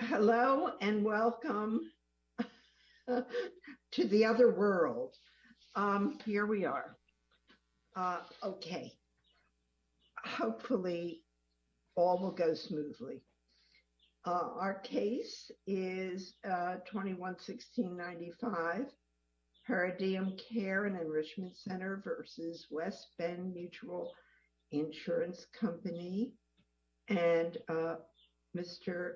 Hello and welcome to the other world. Here we are. Okay, hopefully all will go smoothly. Our case is 21-1695 Paradigm Care & Enrichment Center v. West Bend Mutual Insurance Company and Mr.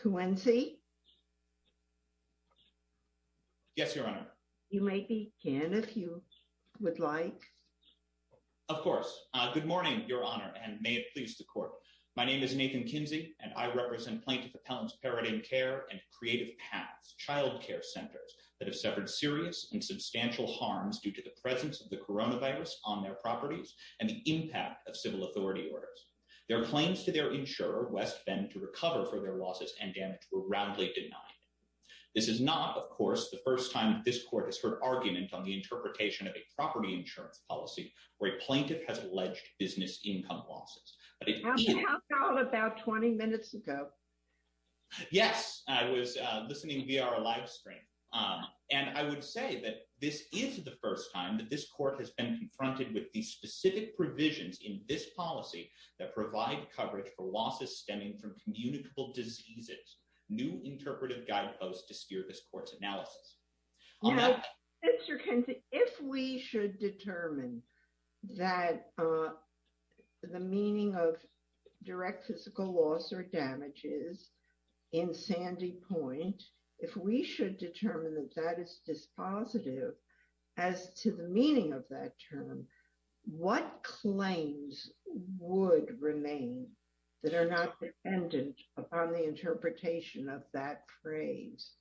Quincy. Yes, Your Honor. You may begin if you would like. Of course. Good morning, Your Honor, and may it please the Court. My name is Nathan Kinsey, and I represent Plaintiff Appellants Paradigm Care and Creative Paths Child Care Centers that have suffered serious and substantial harms due to the presence of the coronavirus on their properties and the orders. Their claims to their insurer, West Bend, to recover for their losses and damage were roundly denied. This is not, of course, the first time that this Court has heard argument on the interpretation of a property insurance policy where a plaintiff has alleged business income losses. How about 20 minutes ago? Yes, I was listening via our live stream, and I would say that this is the first time that this Court has been confronted with these specific provisions in this policy that provide coverage for losses stemming from communicable diseases. New interpretive guideposts to steer this Court's analysis. Mr. Kinsey, if we should determine that the meaning of direct physical loss or damage is in Sandy Point, if we should determine that is dispositive as to the meaning of that term, what claims would remain that are not dependent upon the interpretation of that phrase?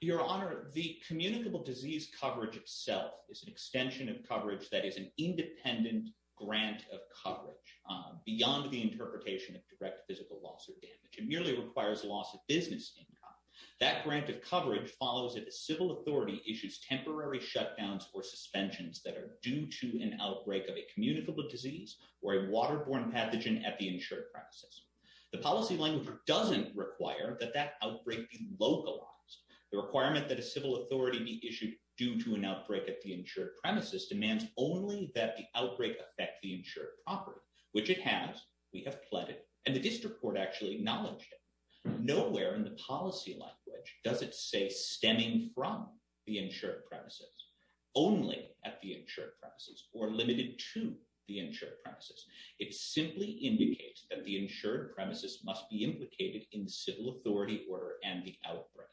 Your Honor, the communicable disease coverage itself is an extension of coverage that is an independent grant of coverage beyond the interpretation of direct physical loss or damage. It merely requires loss of business income. That grant of coverage follows if a civil authority issues temporary shutdowns or suspensions that are due to an outbreak of a communicable disease or a waterborne pathogen at the insured premises. The policy language doesn't require that that outbreak be localized. The requirement that a civil authority be issued due to an outbreak at the insured premises demands only that the outbreak affect the insured property, which it has. We have pledged, and the District Court actually acknowledged it. Nowhere in the policy language does it say stemming from the insured premises, only at the insured premises, or limited to the insured premises. It simply indicates that the insured premises must be implicated in the civil authority order and the outbreak.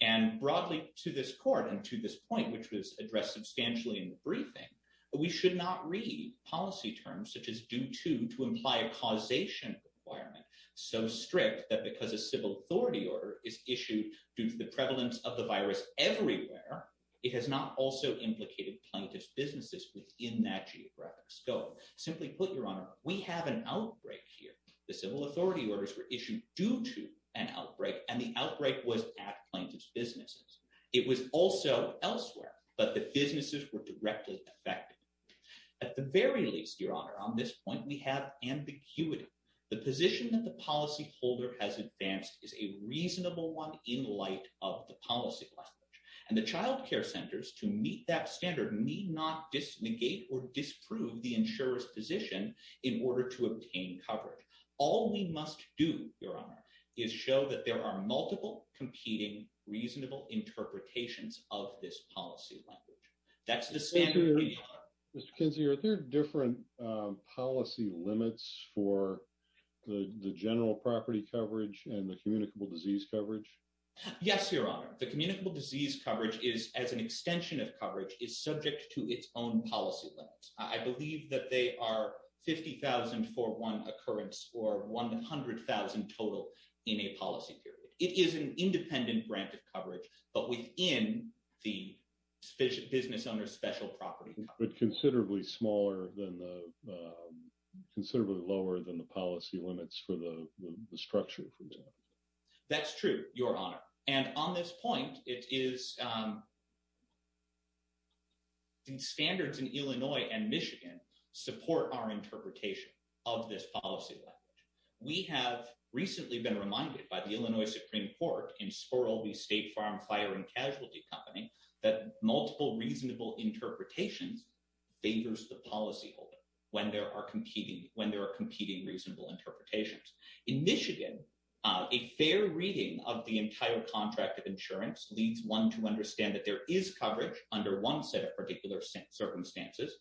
And broadly to this Court and to this point, which was addressed substantially in the briefing, we should not read policy terms such as due to to imply a causation requirement so strict that because a civil authority order is issued due to the prevalence of the virus everywhere, it has not also implicated plaintiff's businesses within that geographic scope. Simply put, Your Honor, we have an outbreak here. The civil authority orders were issued due to an outbreak, and the outbreak was at plaintiff's businesses. It was also elsewhere, but the businesses were directly affected. At the very least, Your Honor, on this point we have ambiguity. The position that the policy holder has advanced is a reasonable one in light of the policy language, and the child care centers to meet that standard need not disnegate or disprove the insurer's position in order to obtain coverage. All we must do, Your Honor, is show that there are multiple competing reasonable interpretations of this policy language. That's the standard. Mr. Kinsey, are there different policy limits for the general property coverage and the communicable disease coverage? Yes, Your Honor. The communicable disease coverage is, as an extension of coverage, is subject to its own policy limits. I believe that they are 50,000 for one occurrence or 100,000 total in a policy period. It is an independent grant of coverage, but within the business owner's special property coverage. But considerably lower than the policy limits for the structure, for example. That's true, Your Honor. And on this point, standards in Illinois and Michigan support our interpretation of this policy language. We have recently been reminded by the Illinois Supreme Court in Sparrow v. State Farm Fire and Casualty Company that multiple reasonable interpretations favors the policy holder when there are competing reasonable interpretations. In Michigan, a fair reading of the entire contract of insurance leads one to understand that there is no coverage under the same circumstances.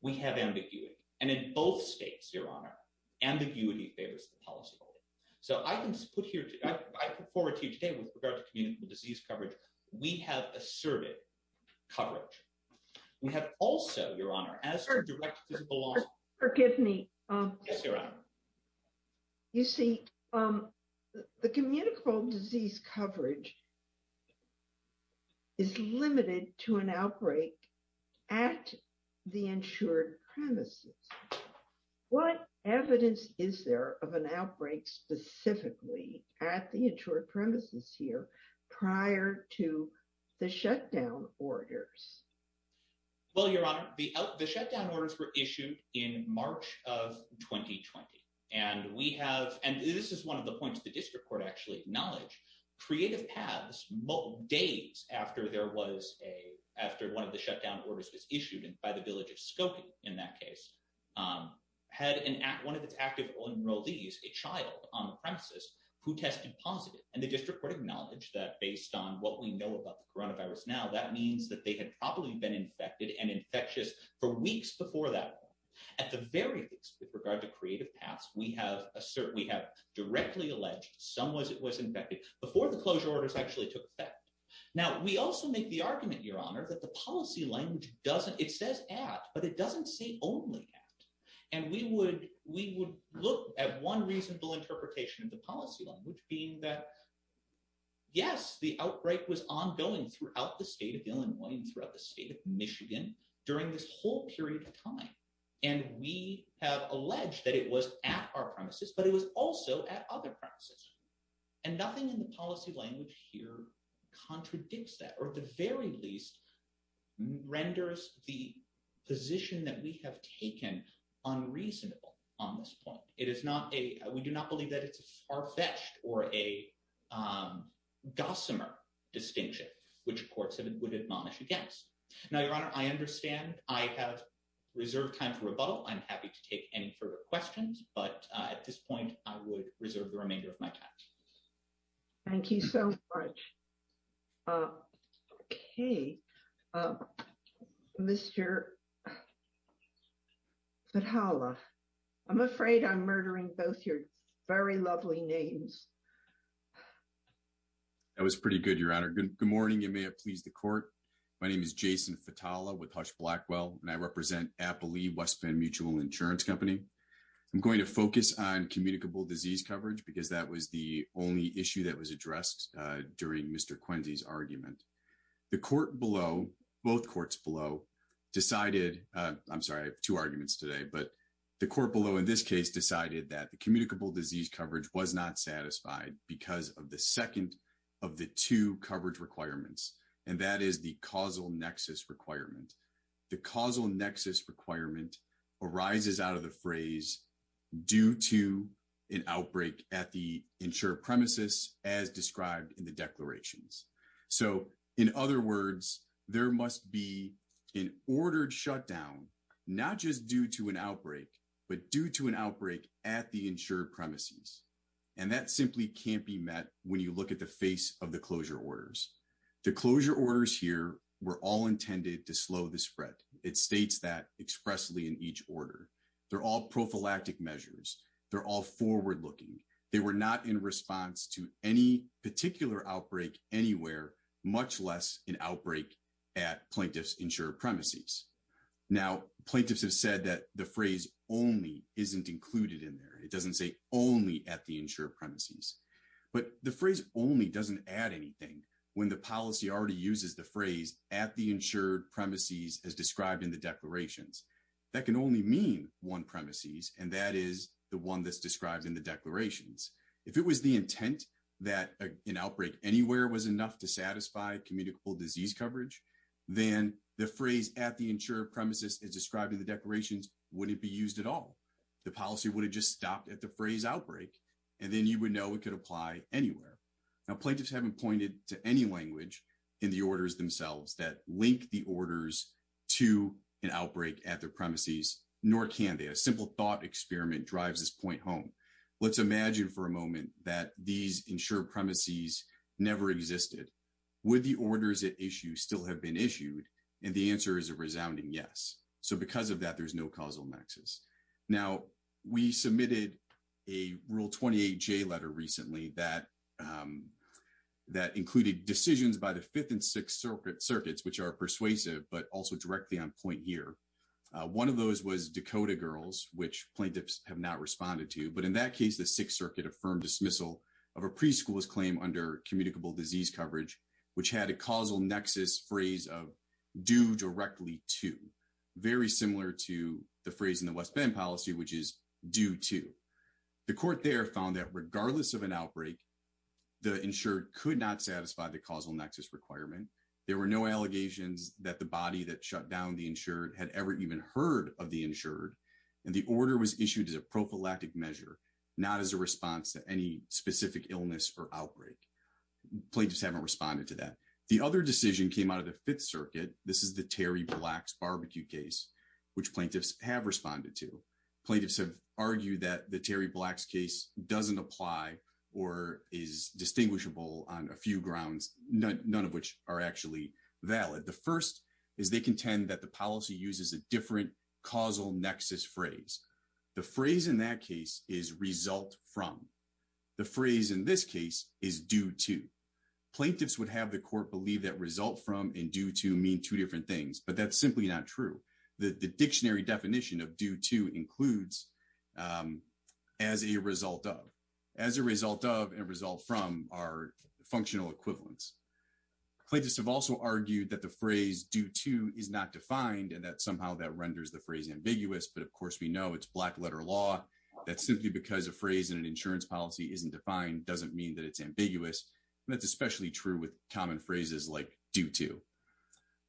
We have ambiguity. And in both states, Your Honor, ambiguity favors the policy holder. So, I put forward to you today with regard to communicable disease coverage, we have asserted coverage. We have also, Your Honor, asserted direct physical loss. Forgive me. Yes, Your Honor. You see, the communicable disease coverage is limited to an outbreak at the insured premises. What evidence is there of an outbreak specifically at the insured premises here prior to the shutdown orders? Well, Your Honor, the shutdown orders were issued in March of 2020. And we have, and this is one of the points the District Court actually acknowledged, Creative Paths, days after one of the shutdown orders was issued by the Village of Skokie in that case, had one of its active enrollees, a child on the premises, who tested positive. And the District Court acknowledged that based on what we know about the coronavirus now, that means that they had probably been infected and infectious for weeks before that. At the very least, with regard to Creative Paths, we have directly alleged some was it was infected before the closure orders actually took effect. Now, we also make the argument, Your Honor, that the policy language doesn't, it says at, but it doesn't say only at. And we would look at one reasonable interpretation of the policy language, being that, yes, the outbreak was ongoing throughout the state of Illinois and throughout the state of Michigan during this whole period of time. And we have alleged that it was at our premises, but it was also at other premises. And nothing in the policy language here contradicts that, or at the very least, renders the position that we have taken unreasonable on this point. It is not a, we do not believe that it's a far-fetched or a gossamer distinction, which courts would admonish against. Now, Your Honor, I understand I have reserved time for rebuttal. I'm happy to take any further questions, but at this point, I would reserve the remainder of my time. Thank you so much. Okay. Mr. Vitala, I'm afraid I'm murdering both your very lovely names. That was pretty good, Your Honor. Good morning. You may have pleased the court. My name is Jason Vitala with Hush Blackwell, and I represent Applee West Bend Mutual Insurance Company. I'm going to focus on communicable disease coverage because that was the only issue that was addressed during Mr. Quincy's argument. The court below, both courts below, decided, I'm sorry, I have two arguments today, but the court below in this case decided that communicable disease coverage was not satisfied because of the second of the two coverage requirements, and that is the causal nexus requirement. The causal nexus requirement arises out of the phrase, due to an outbreak at the insured premises as described in the declarations. So, in other words, there must be an ordered shutdown, not just due to an outbreak, but due to an outbreak at the insured premises. And that simply can't be met when you look at the face of the closure orders. The closure orders here were all intended to slow the spread. It states that expressly in each order. They're all prophylactic measures. They're all forward looking. They were not in response to any particular outbreak anywhere, much less an included in there. It doesn't say only at the insured premises. But the phrase only doesn't add anything when the policy already uses the phrase at the insured premises as described in the declarations. That can only mean one premises, and that is the one that's described in the declarations. If it was the intent that an outbreak anywhere was enough to satisfy communicable disease coverage, then the phrase at the insured premises as described in the declarations wouldn't be used at all. The policy would have just stopped at the phrase outbreak, and then you would know it could apply anywhere. Now, plaintiffs haven't pointed to any language in the orders themselves that link the orders to an outbreak at their premises, nor can they. A simple thought experiment drives this point home. Let's imagine for a moment that these insured premises never existed. Would the orders at issue still have been issued? And the answer is a causal nexus. Now, we submitted a Rule 28J letter recently that included decisions by the Fifth and Sixth Circuits, which are persuasive, but also directly on point here. One of those was Dakota Girls, which plaintiffs have not responded to. But in that case, the Sixth Circuit affirmed dismissal of a preschooler's claim under communicable disease coverage, which had a causal nexus phrase of due directly to, very similar to the phrase in the West Bend policy, which is due to. The court there found that regardless of an outbreak, the insured could not satisfy the causal nexus requirement. There were no allegations that the body that shut down the insured had ever even heard of the insured. And the order was issued as a prophylactic measure, not as a response to any specific illness or outbreak. Plaintiffs haven't responded to that. The other decision came out of the Fifth Circuit. This is the Terry Black's barbecue case, which plaintiffs have responded to. Plaintiffs have argued that the Terry Black's case doesn't apply or is distinguishable on a few grounds, none of which are actually valid. The first is they contend that the policy uses a different causal nexus phrase. The phrase in that case is result from. The phrase in this case is due to. Plaintiffs would have the court believe that result from and due to mean two different things, but that's simply not true. The dictionary definition of due to includes as a result of. As a result of and result from are functional equivalents. Plaintiffs have also argued that the phrase due to is not defined and that somehow that renders the phrase ambiguous, but of course we know it's black letter law. That's simply because a phrase in an insurance policy isn't defined doesn't mean that it's ambiguous. And that's especially true with common phrases like due to.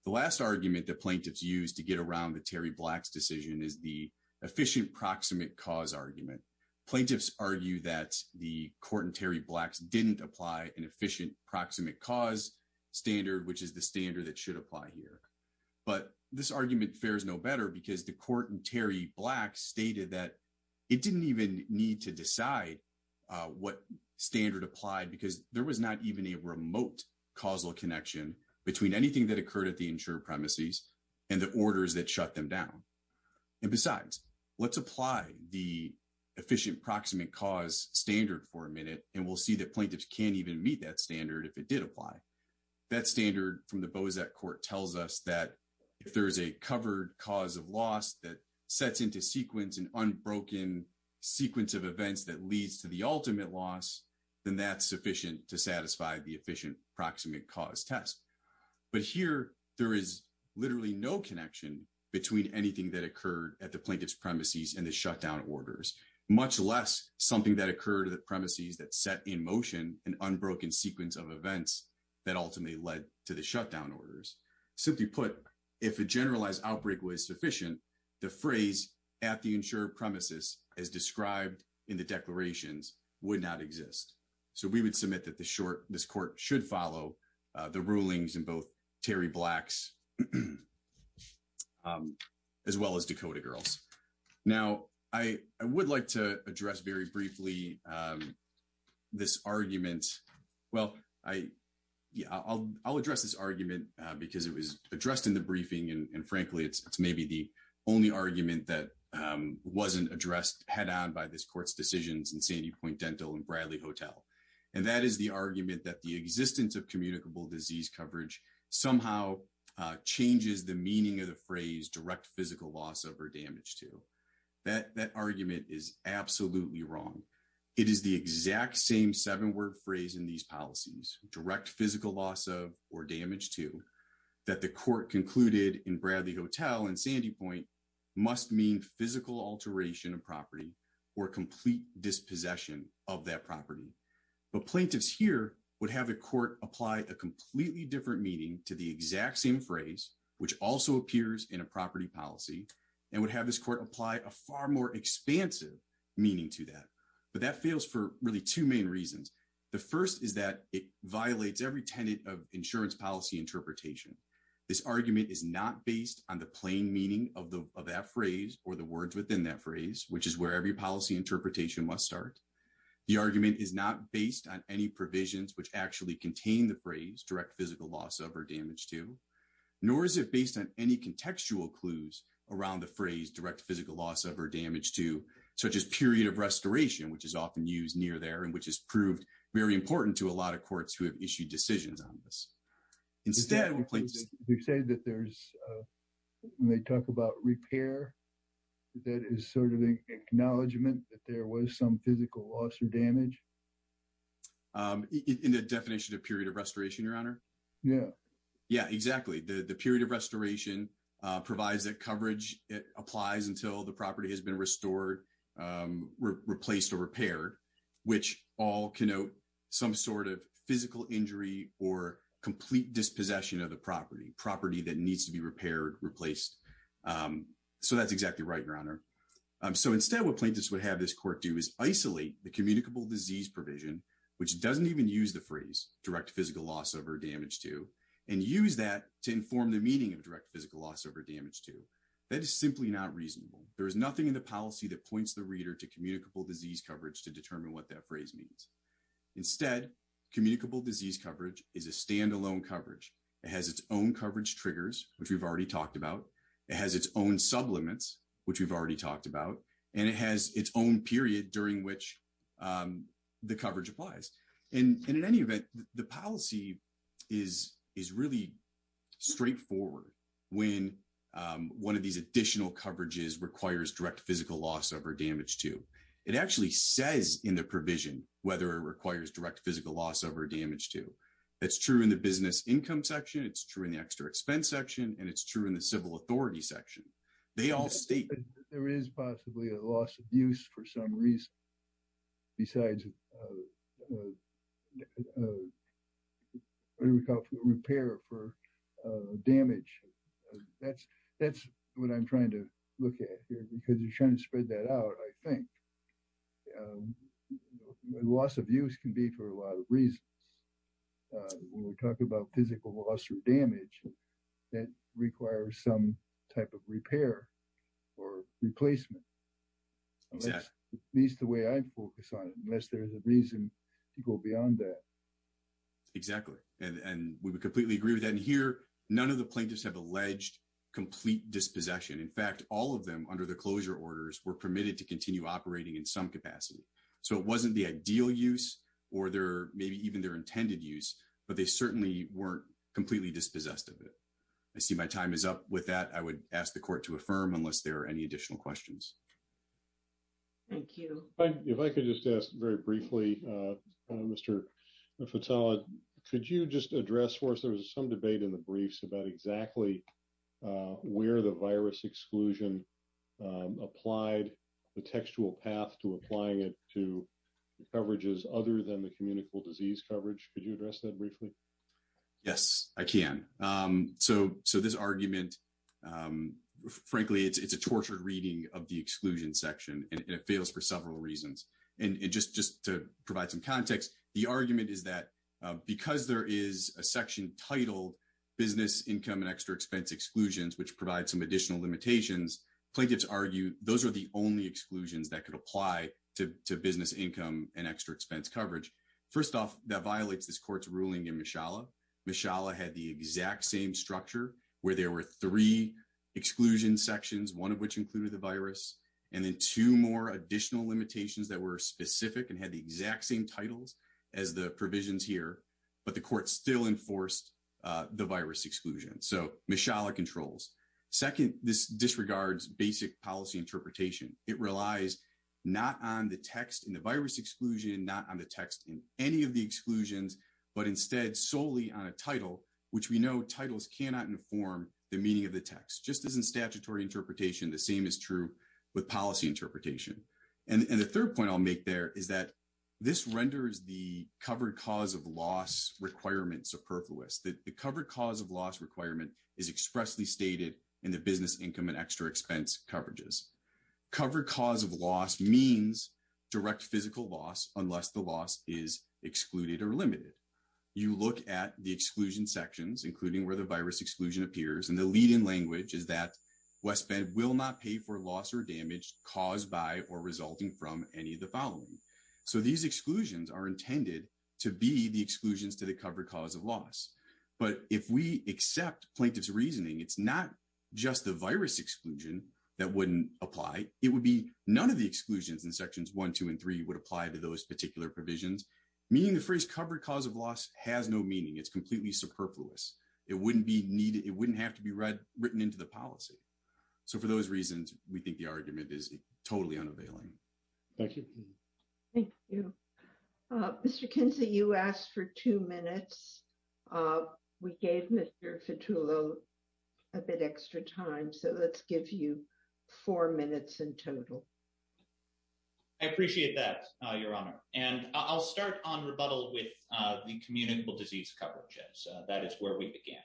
The last argument that plaintiffs use to get around the Terry Black's decision is the efficient proximate cause argument. Plaintiffs argue that the court in Terry Black's didn't apply an efficient proximate cause standard, which is the standard that should apply here. But this argument fares no better because the court in Terry Black stated that it didn't even need to decide what standard applied because there was not even a remote causal connection between anything that occurred at the insured premises and the orders that shut them down. And besides, let's apply the efficient proximate cause standard for a minute and we'll see that plaintiffs can't even meet that standard if it did apply. That standard from the Bozak court tells us that if there is a covered cause of loss that sets into sequence an unbroken sequence of events that leads to the ultimate loss, then that's sufficient to satisfy the efficient proximate cause test. But here, there is literally no connection between anything that occurred at the plaintiff's premises and the shutdown orders, much less something that occurred at the premises that set in motion an unbroken sequence of events that ultimately led to the shutdown orders. Simply put, if a generalized outbreak was sufficient, the phrase at the insured premises as described in the declarations would not exist. So, we would submit that this court should follow the rulings in both Terry Black's as well as Dakota Girl's. Now, I would like to address very briefly this argument. Well, I'll address this argument because it was addressed in the briefing and frankly, it's maybe the only argument that wasn't addressed head-on by this court's decisions in Sandy Point Dental and Bradley Hotel. And that is the argument that the existence of communicable disease coverage somehow changes the meaning of the phrase direct physical loss of or damage to. That argument is absolutely wrong. It is the exact same seven-word phrase in these policies, direct physical loss of or damage to, that the court concluded in Bradley Hotel and Sandy Point must mean physical alteration of property or complete dispossession of that property. But plaintiffs here would have a court apply a completely different meaning to the exact same phrase, which also appears in a property policy and would have this court apply a far more expansive meaning to that. But that fails for really two main reasons. The first is that it violates every tenet of insurance policy interpretation. This argument is not based on the plain meaning of that phrase or the words within that phrase, which is where every policy interpretation must start. The argument is not based on any provisions which actually contain the phrase direct physical loss of or damage to, nor is it based on any contextual clues around the phrase direct physical loss of or damage to, such as period of restoration, which is often used near there and which has proved very important to a lot of courts who have issued decisions on this. Instead, we'll place- They say that there's, when they talk about repair, that is sort of an acknowledgment that there was some physical loss or damage? In the definition of period of restoration, Your Honor? Yeah. Yeah, exactly. The period of restoration provides that coverage applies until the property has been restored, replaced, or repaired, which all connote some sort of physical injury or complete dispossession of the property, property that needs to be repaired, replaced. So that's exactly right, Your Honor. So instead, what plaintiffs would have this court do is isolate the communicable disease provision, which doesn't even use the phrase direct physical loss of or damage to, and use that to inform the meaning of direct physical loss of or damage to. That is simply not reasonable. There is nothing in the policy that points the reader to communicable disease coverage to determine what that phrase means. Instead, communicable disease coverage is a standalone coverage. It has its own coverage triggers, which we've already talked about. It has its own sublimates, which we've already talked about, and it has its own period during which the coverage applies. And in any event, the policy is really straightforward when one of these additional coverages requires direct physical loss of or damage to. It actually says in the provision whether it requires direct physical loss of or damage to. That's true in the business income section, it's true in the extra expense section, and it's true in the civil authority section. They all state. There is possibly a loss of use for some reason besides repair for damage. That's what I'm trying to look at here because you're trying to spread that out, I think. Loss of use can be for a lot of reasons. When we talk about physical loss or damage, it requires some type of repair or replacement. Exactly. At least the way I focus on it, unless there's a reason to go beyond that. Exactly. And we would completely agree with that. And here, none of the plaintiffs have alleged complete dispossession. In fact, all of them under the closure orders were permitted to continue operating in some capacity. So, it wasn't the ideal use or maybe even their intended use, but they certainly weren't completely dispossessed of it. I see my time is up with that. I would ask the court to affirm unless there are any additional questions. Thank you. If I could just ask very briefly, Mr. Fetella, could you just address for us, there was some debate in the briefs about exactly where the virus exclusion applied, the textual path to applying it to coverages other than the communicable disease coverage. Could you address that briefly? Yes, I can. So, this argument, frankly, it's a tortured reading of the exclusion section and it fails for several reasons. And just to provide some context, the argument is that because there is a section titled business income and extra expense exclusions, which provide some additional limitations, plaintiffs argue those are the only exclusions that could apply to business income and extra expense coverage. First off, that violates this court's ruling in Mishala. Mishala had the exact same structure where there were three exclusion sections, one of which included the virus, and then two more additional limitations that were specific and had the exact same titles as the provisions here, but the court still enforced the virus exclusion. So, Mishala controls. Second, this disregards basic policy interpretation. It relies not on the text in the exclusion, not on the text in any of the exclusions, but instead solely on a title, which we know titles cannot inform the meaning of the text. Just as in statutory interpretation, the same is true with policy interpretation. And the third point I'll make there is that this renders the covered cause of loss requirement superfluous, that the covered cause of loss requirement is expressly stated in the business income and extra expense coverages. Covered cause of loss means direct physical loss unless the loss is excluded or limited. You look at the exclusion sections, including where the virus exclusion appears, and the lead-in language is that West Bend will not pay for loss or damage caused by or resulting from any of the following. So, these exclusions are intended to be the exclusions to the covered cause of loss. But if we accept plaintiff's reasoning, it's not just the virus exclusion that wouldn't apply. It would be none of the applied to those particular provisions. Meaning the phrase covered cause of loss has no meaning. It's completely superfluous. It wouldn't have to be written into the policy. So, for those reasons, we think the argument is totally unavailing. Thank you. Thank you. Mr. Kinsey, you asked for two minutes. We gave Mr. Fitullo a bit extra time. So, let's give you four minutes in total. I appreciate that, Your Honor. And I'll start on rebuttal with the communicable disease coverages. That is where we began.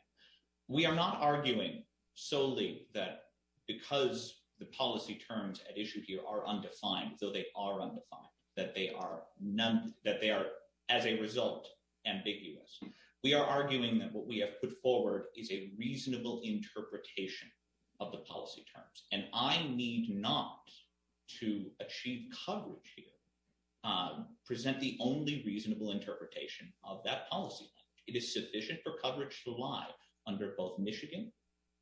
We are not arguing solely that because the policy terms at issue here are undefined, though they are undefined, that they are as a result ambiguous. We are arguing that what we have put forward is a reasonable interpretation of the policy terms. And I need not, to achieve coverage here, present the only reasonable interpretation of that policy. It is sufficient for coverage to lie under both Michigan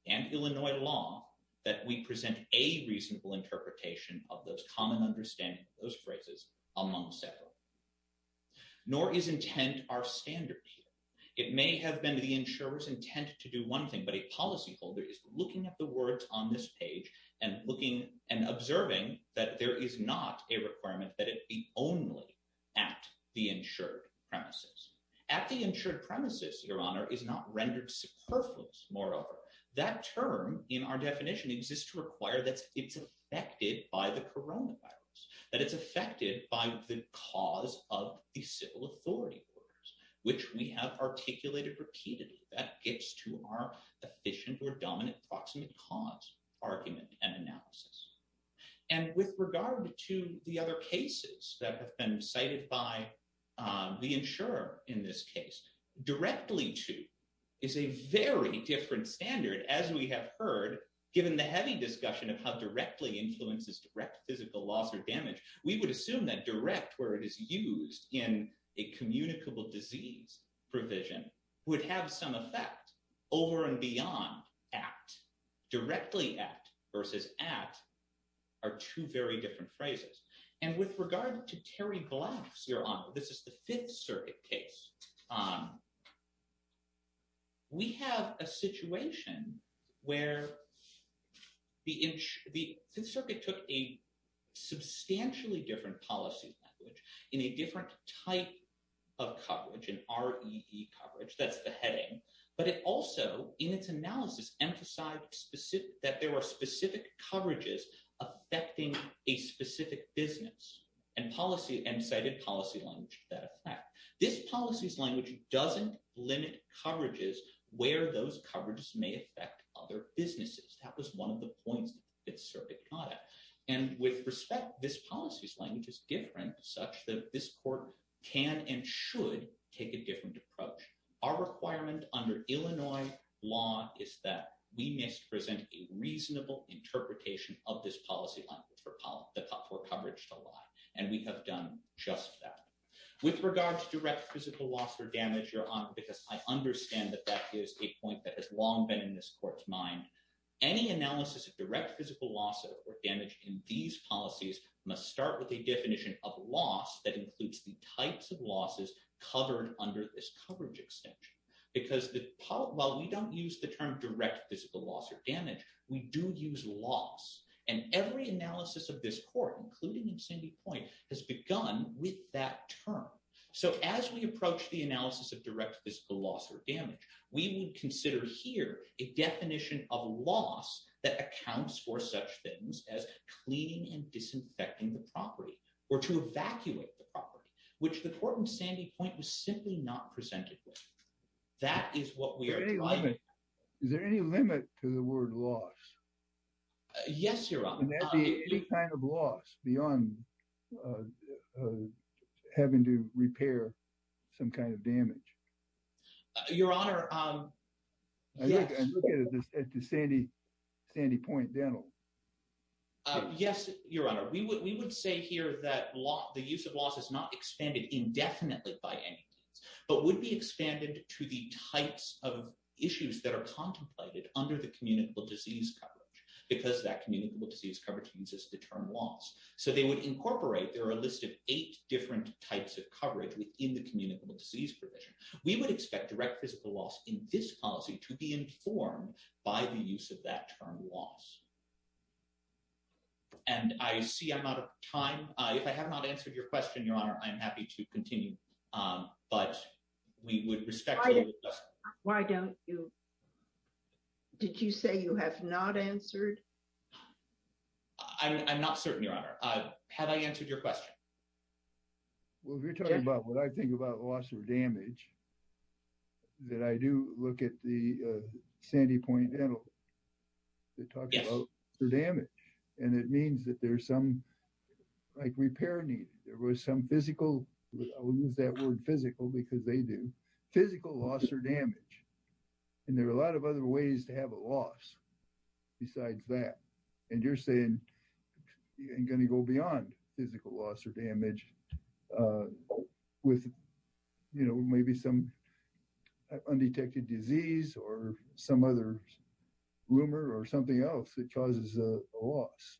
and Illinois law that we present a reasonable interpretation of those common understandings, those phrases, among several. Nor is intent our standard here. It may have been the insurer's intent to do one thing, but a policyholder is looking at the words on this page and observing that there is not a requirement that it be only at the insured premises. At the insured premises, Your Honor, is not rendered superfluous, moreover. That term in our definition exists to require that it's affected by the coronavirus, that it's affected by the cause of the civil authority orders, which we have articulated repeatedly. That gets to our efficient or dominant approximate cause argument and analysis. And with regard to the other cases that have been cited by the insurer in this case, directly to is a very different standard. As we have heard, given the heavy discussion of how directly influences direct physical loss or damage, we would assume that direct, where it is used in a communicable disease provision, would have some effect over and beyond at. Directly at versus at are two very different phrases. And with regard to Terry Black's, Your Honor, this is the Fifth Circuit case, we have a situation where the Fifth Circuit took a substantially different policy language in a different type of coverage, an REE coverage, that's the heading, but it also, in its analysis, emphasized that there were specific coverages affecting a specific business and cited policy language to that effect. This policy's language doesn't limit coverages where those coverages may affect other businesses. That was one of the points of the Fifth Circuit product. And with respect, this policy's language is different, such that this court can and should take a different approach. Our requirement under Illinois law is that we must present a reasonable interpretation of this policy language for coverage to apply. And we have done just that. With regard to direct physical loss or damage, Your Honor, because I understand that that is a point that has long been in this court's mind, any analysis of direct physical loss or damage in these policies must start with a definition of loss that includes the types of losses covered under this coverage extension. Because while we don't use the term direct physical loss or damage, we do use loss. And every analysis of this court, including in Sandy Point, has begun with that term. So as we approach the analysis of direct physical loss or damage, we would consider here a definition of loss that accounts for such things as cleaning and disinfecting the property or to evacuate the property, which the court in Sandy Point was Yes, Your Honor. And that'd be any kind of loss beyond having to repair some kind of damage. Your Honor, yes. I look at the Sandy Point dental. Yes, Your Honor. We would say here that the use of loss is not expanded indefinitely by any means, but would be expanded to the types of issues that are contemplated under the communicable disease coverage, because that communicable disease coverage uses the term loss. So they would incorporate, there are a list of eight different types of coverage within the communicable disease provision. We would expect direct physical loss in this policy to be informed by the use of that term loss. And I see I'm out of time. If I have not answered your question, Your Honor, I'm happy to continue. But we would respect your judgment. Why don't you? Did you say you have not answered? I'm not certain, Your Honor. Have I answered your question? Well, if you're talking about what I think about loss or damage, that I do look at the Sandy Point dental. Yes. Damage. And it means that there's some, like repair needed. There was some physical, I'll use that word physical because they do, physical loss or damage. And there are a lot of other ways to have a loss besides that. And you're saying you're going to go beyond physical loss or damage with maybe some undetected disease or some other rumor or something else that causes a loss.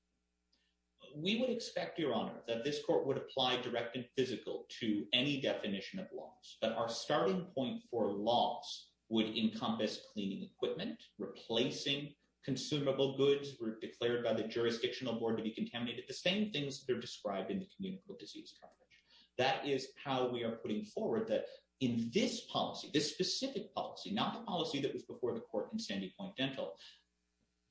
We would expect, Your Honor, that this court would apply direct and physical to any definition of loss. But our starting point for loss would encompass cleaning equipment, replacing consumable goods were declared by the jurisdictional board to be contaminated, the same things that are described in the communicable disease coverage. That is how we are putting forward that in this policy, this specific policy, not the policy that was before the court in Sandy Point dental.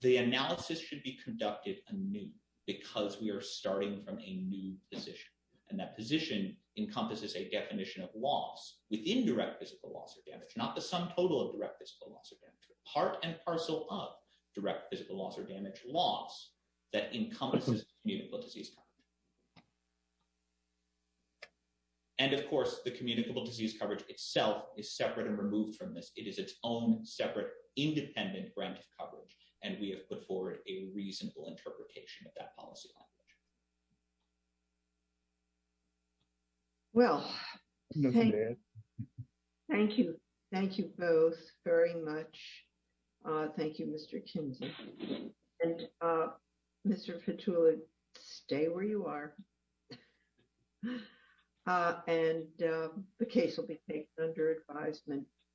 The analysis should be conducted anew because we are starting from a new position. And that position encompasses a definition of loss within direct physical loss or damage, not the sum total of direct physical loss or damage, but part and parcel of direct physical loss or damage loss that encompasses communicable disease. And of course, the communicable disease coverage itself is separate and removed from this. It is its own separate, independent grant of coverage. And we have put forward a reasonable interpretation of that policy language. Well, thank you. Thank you both very much. Thank you, Mr. Kinsey. And Mr. Fitula, stay where you are. And the case will be taken under advisement.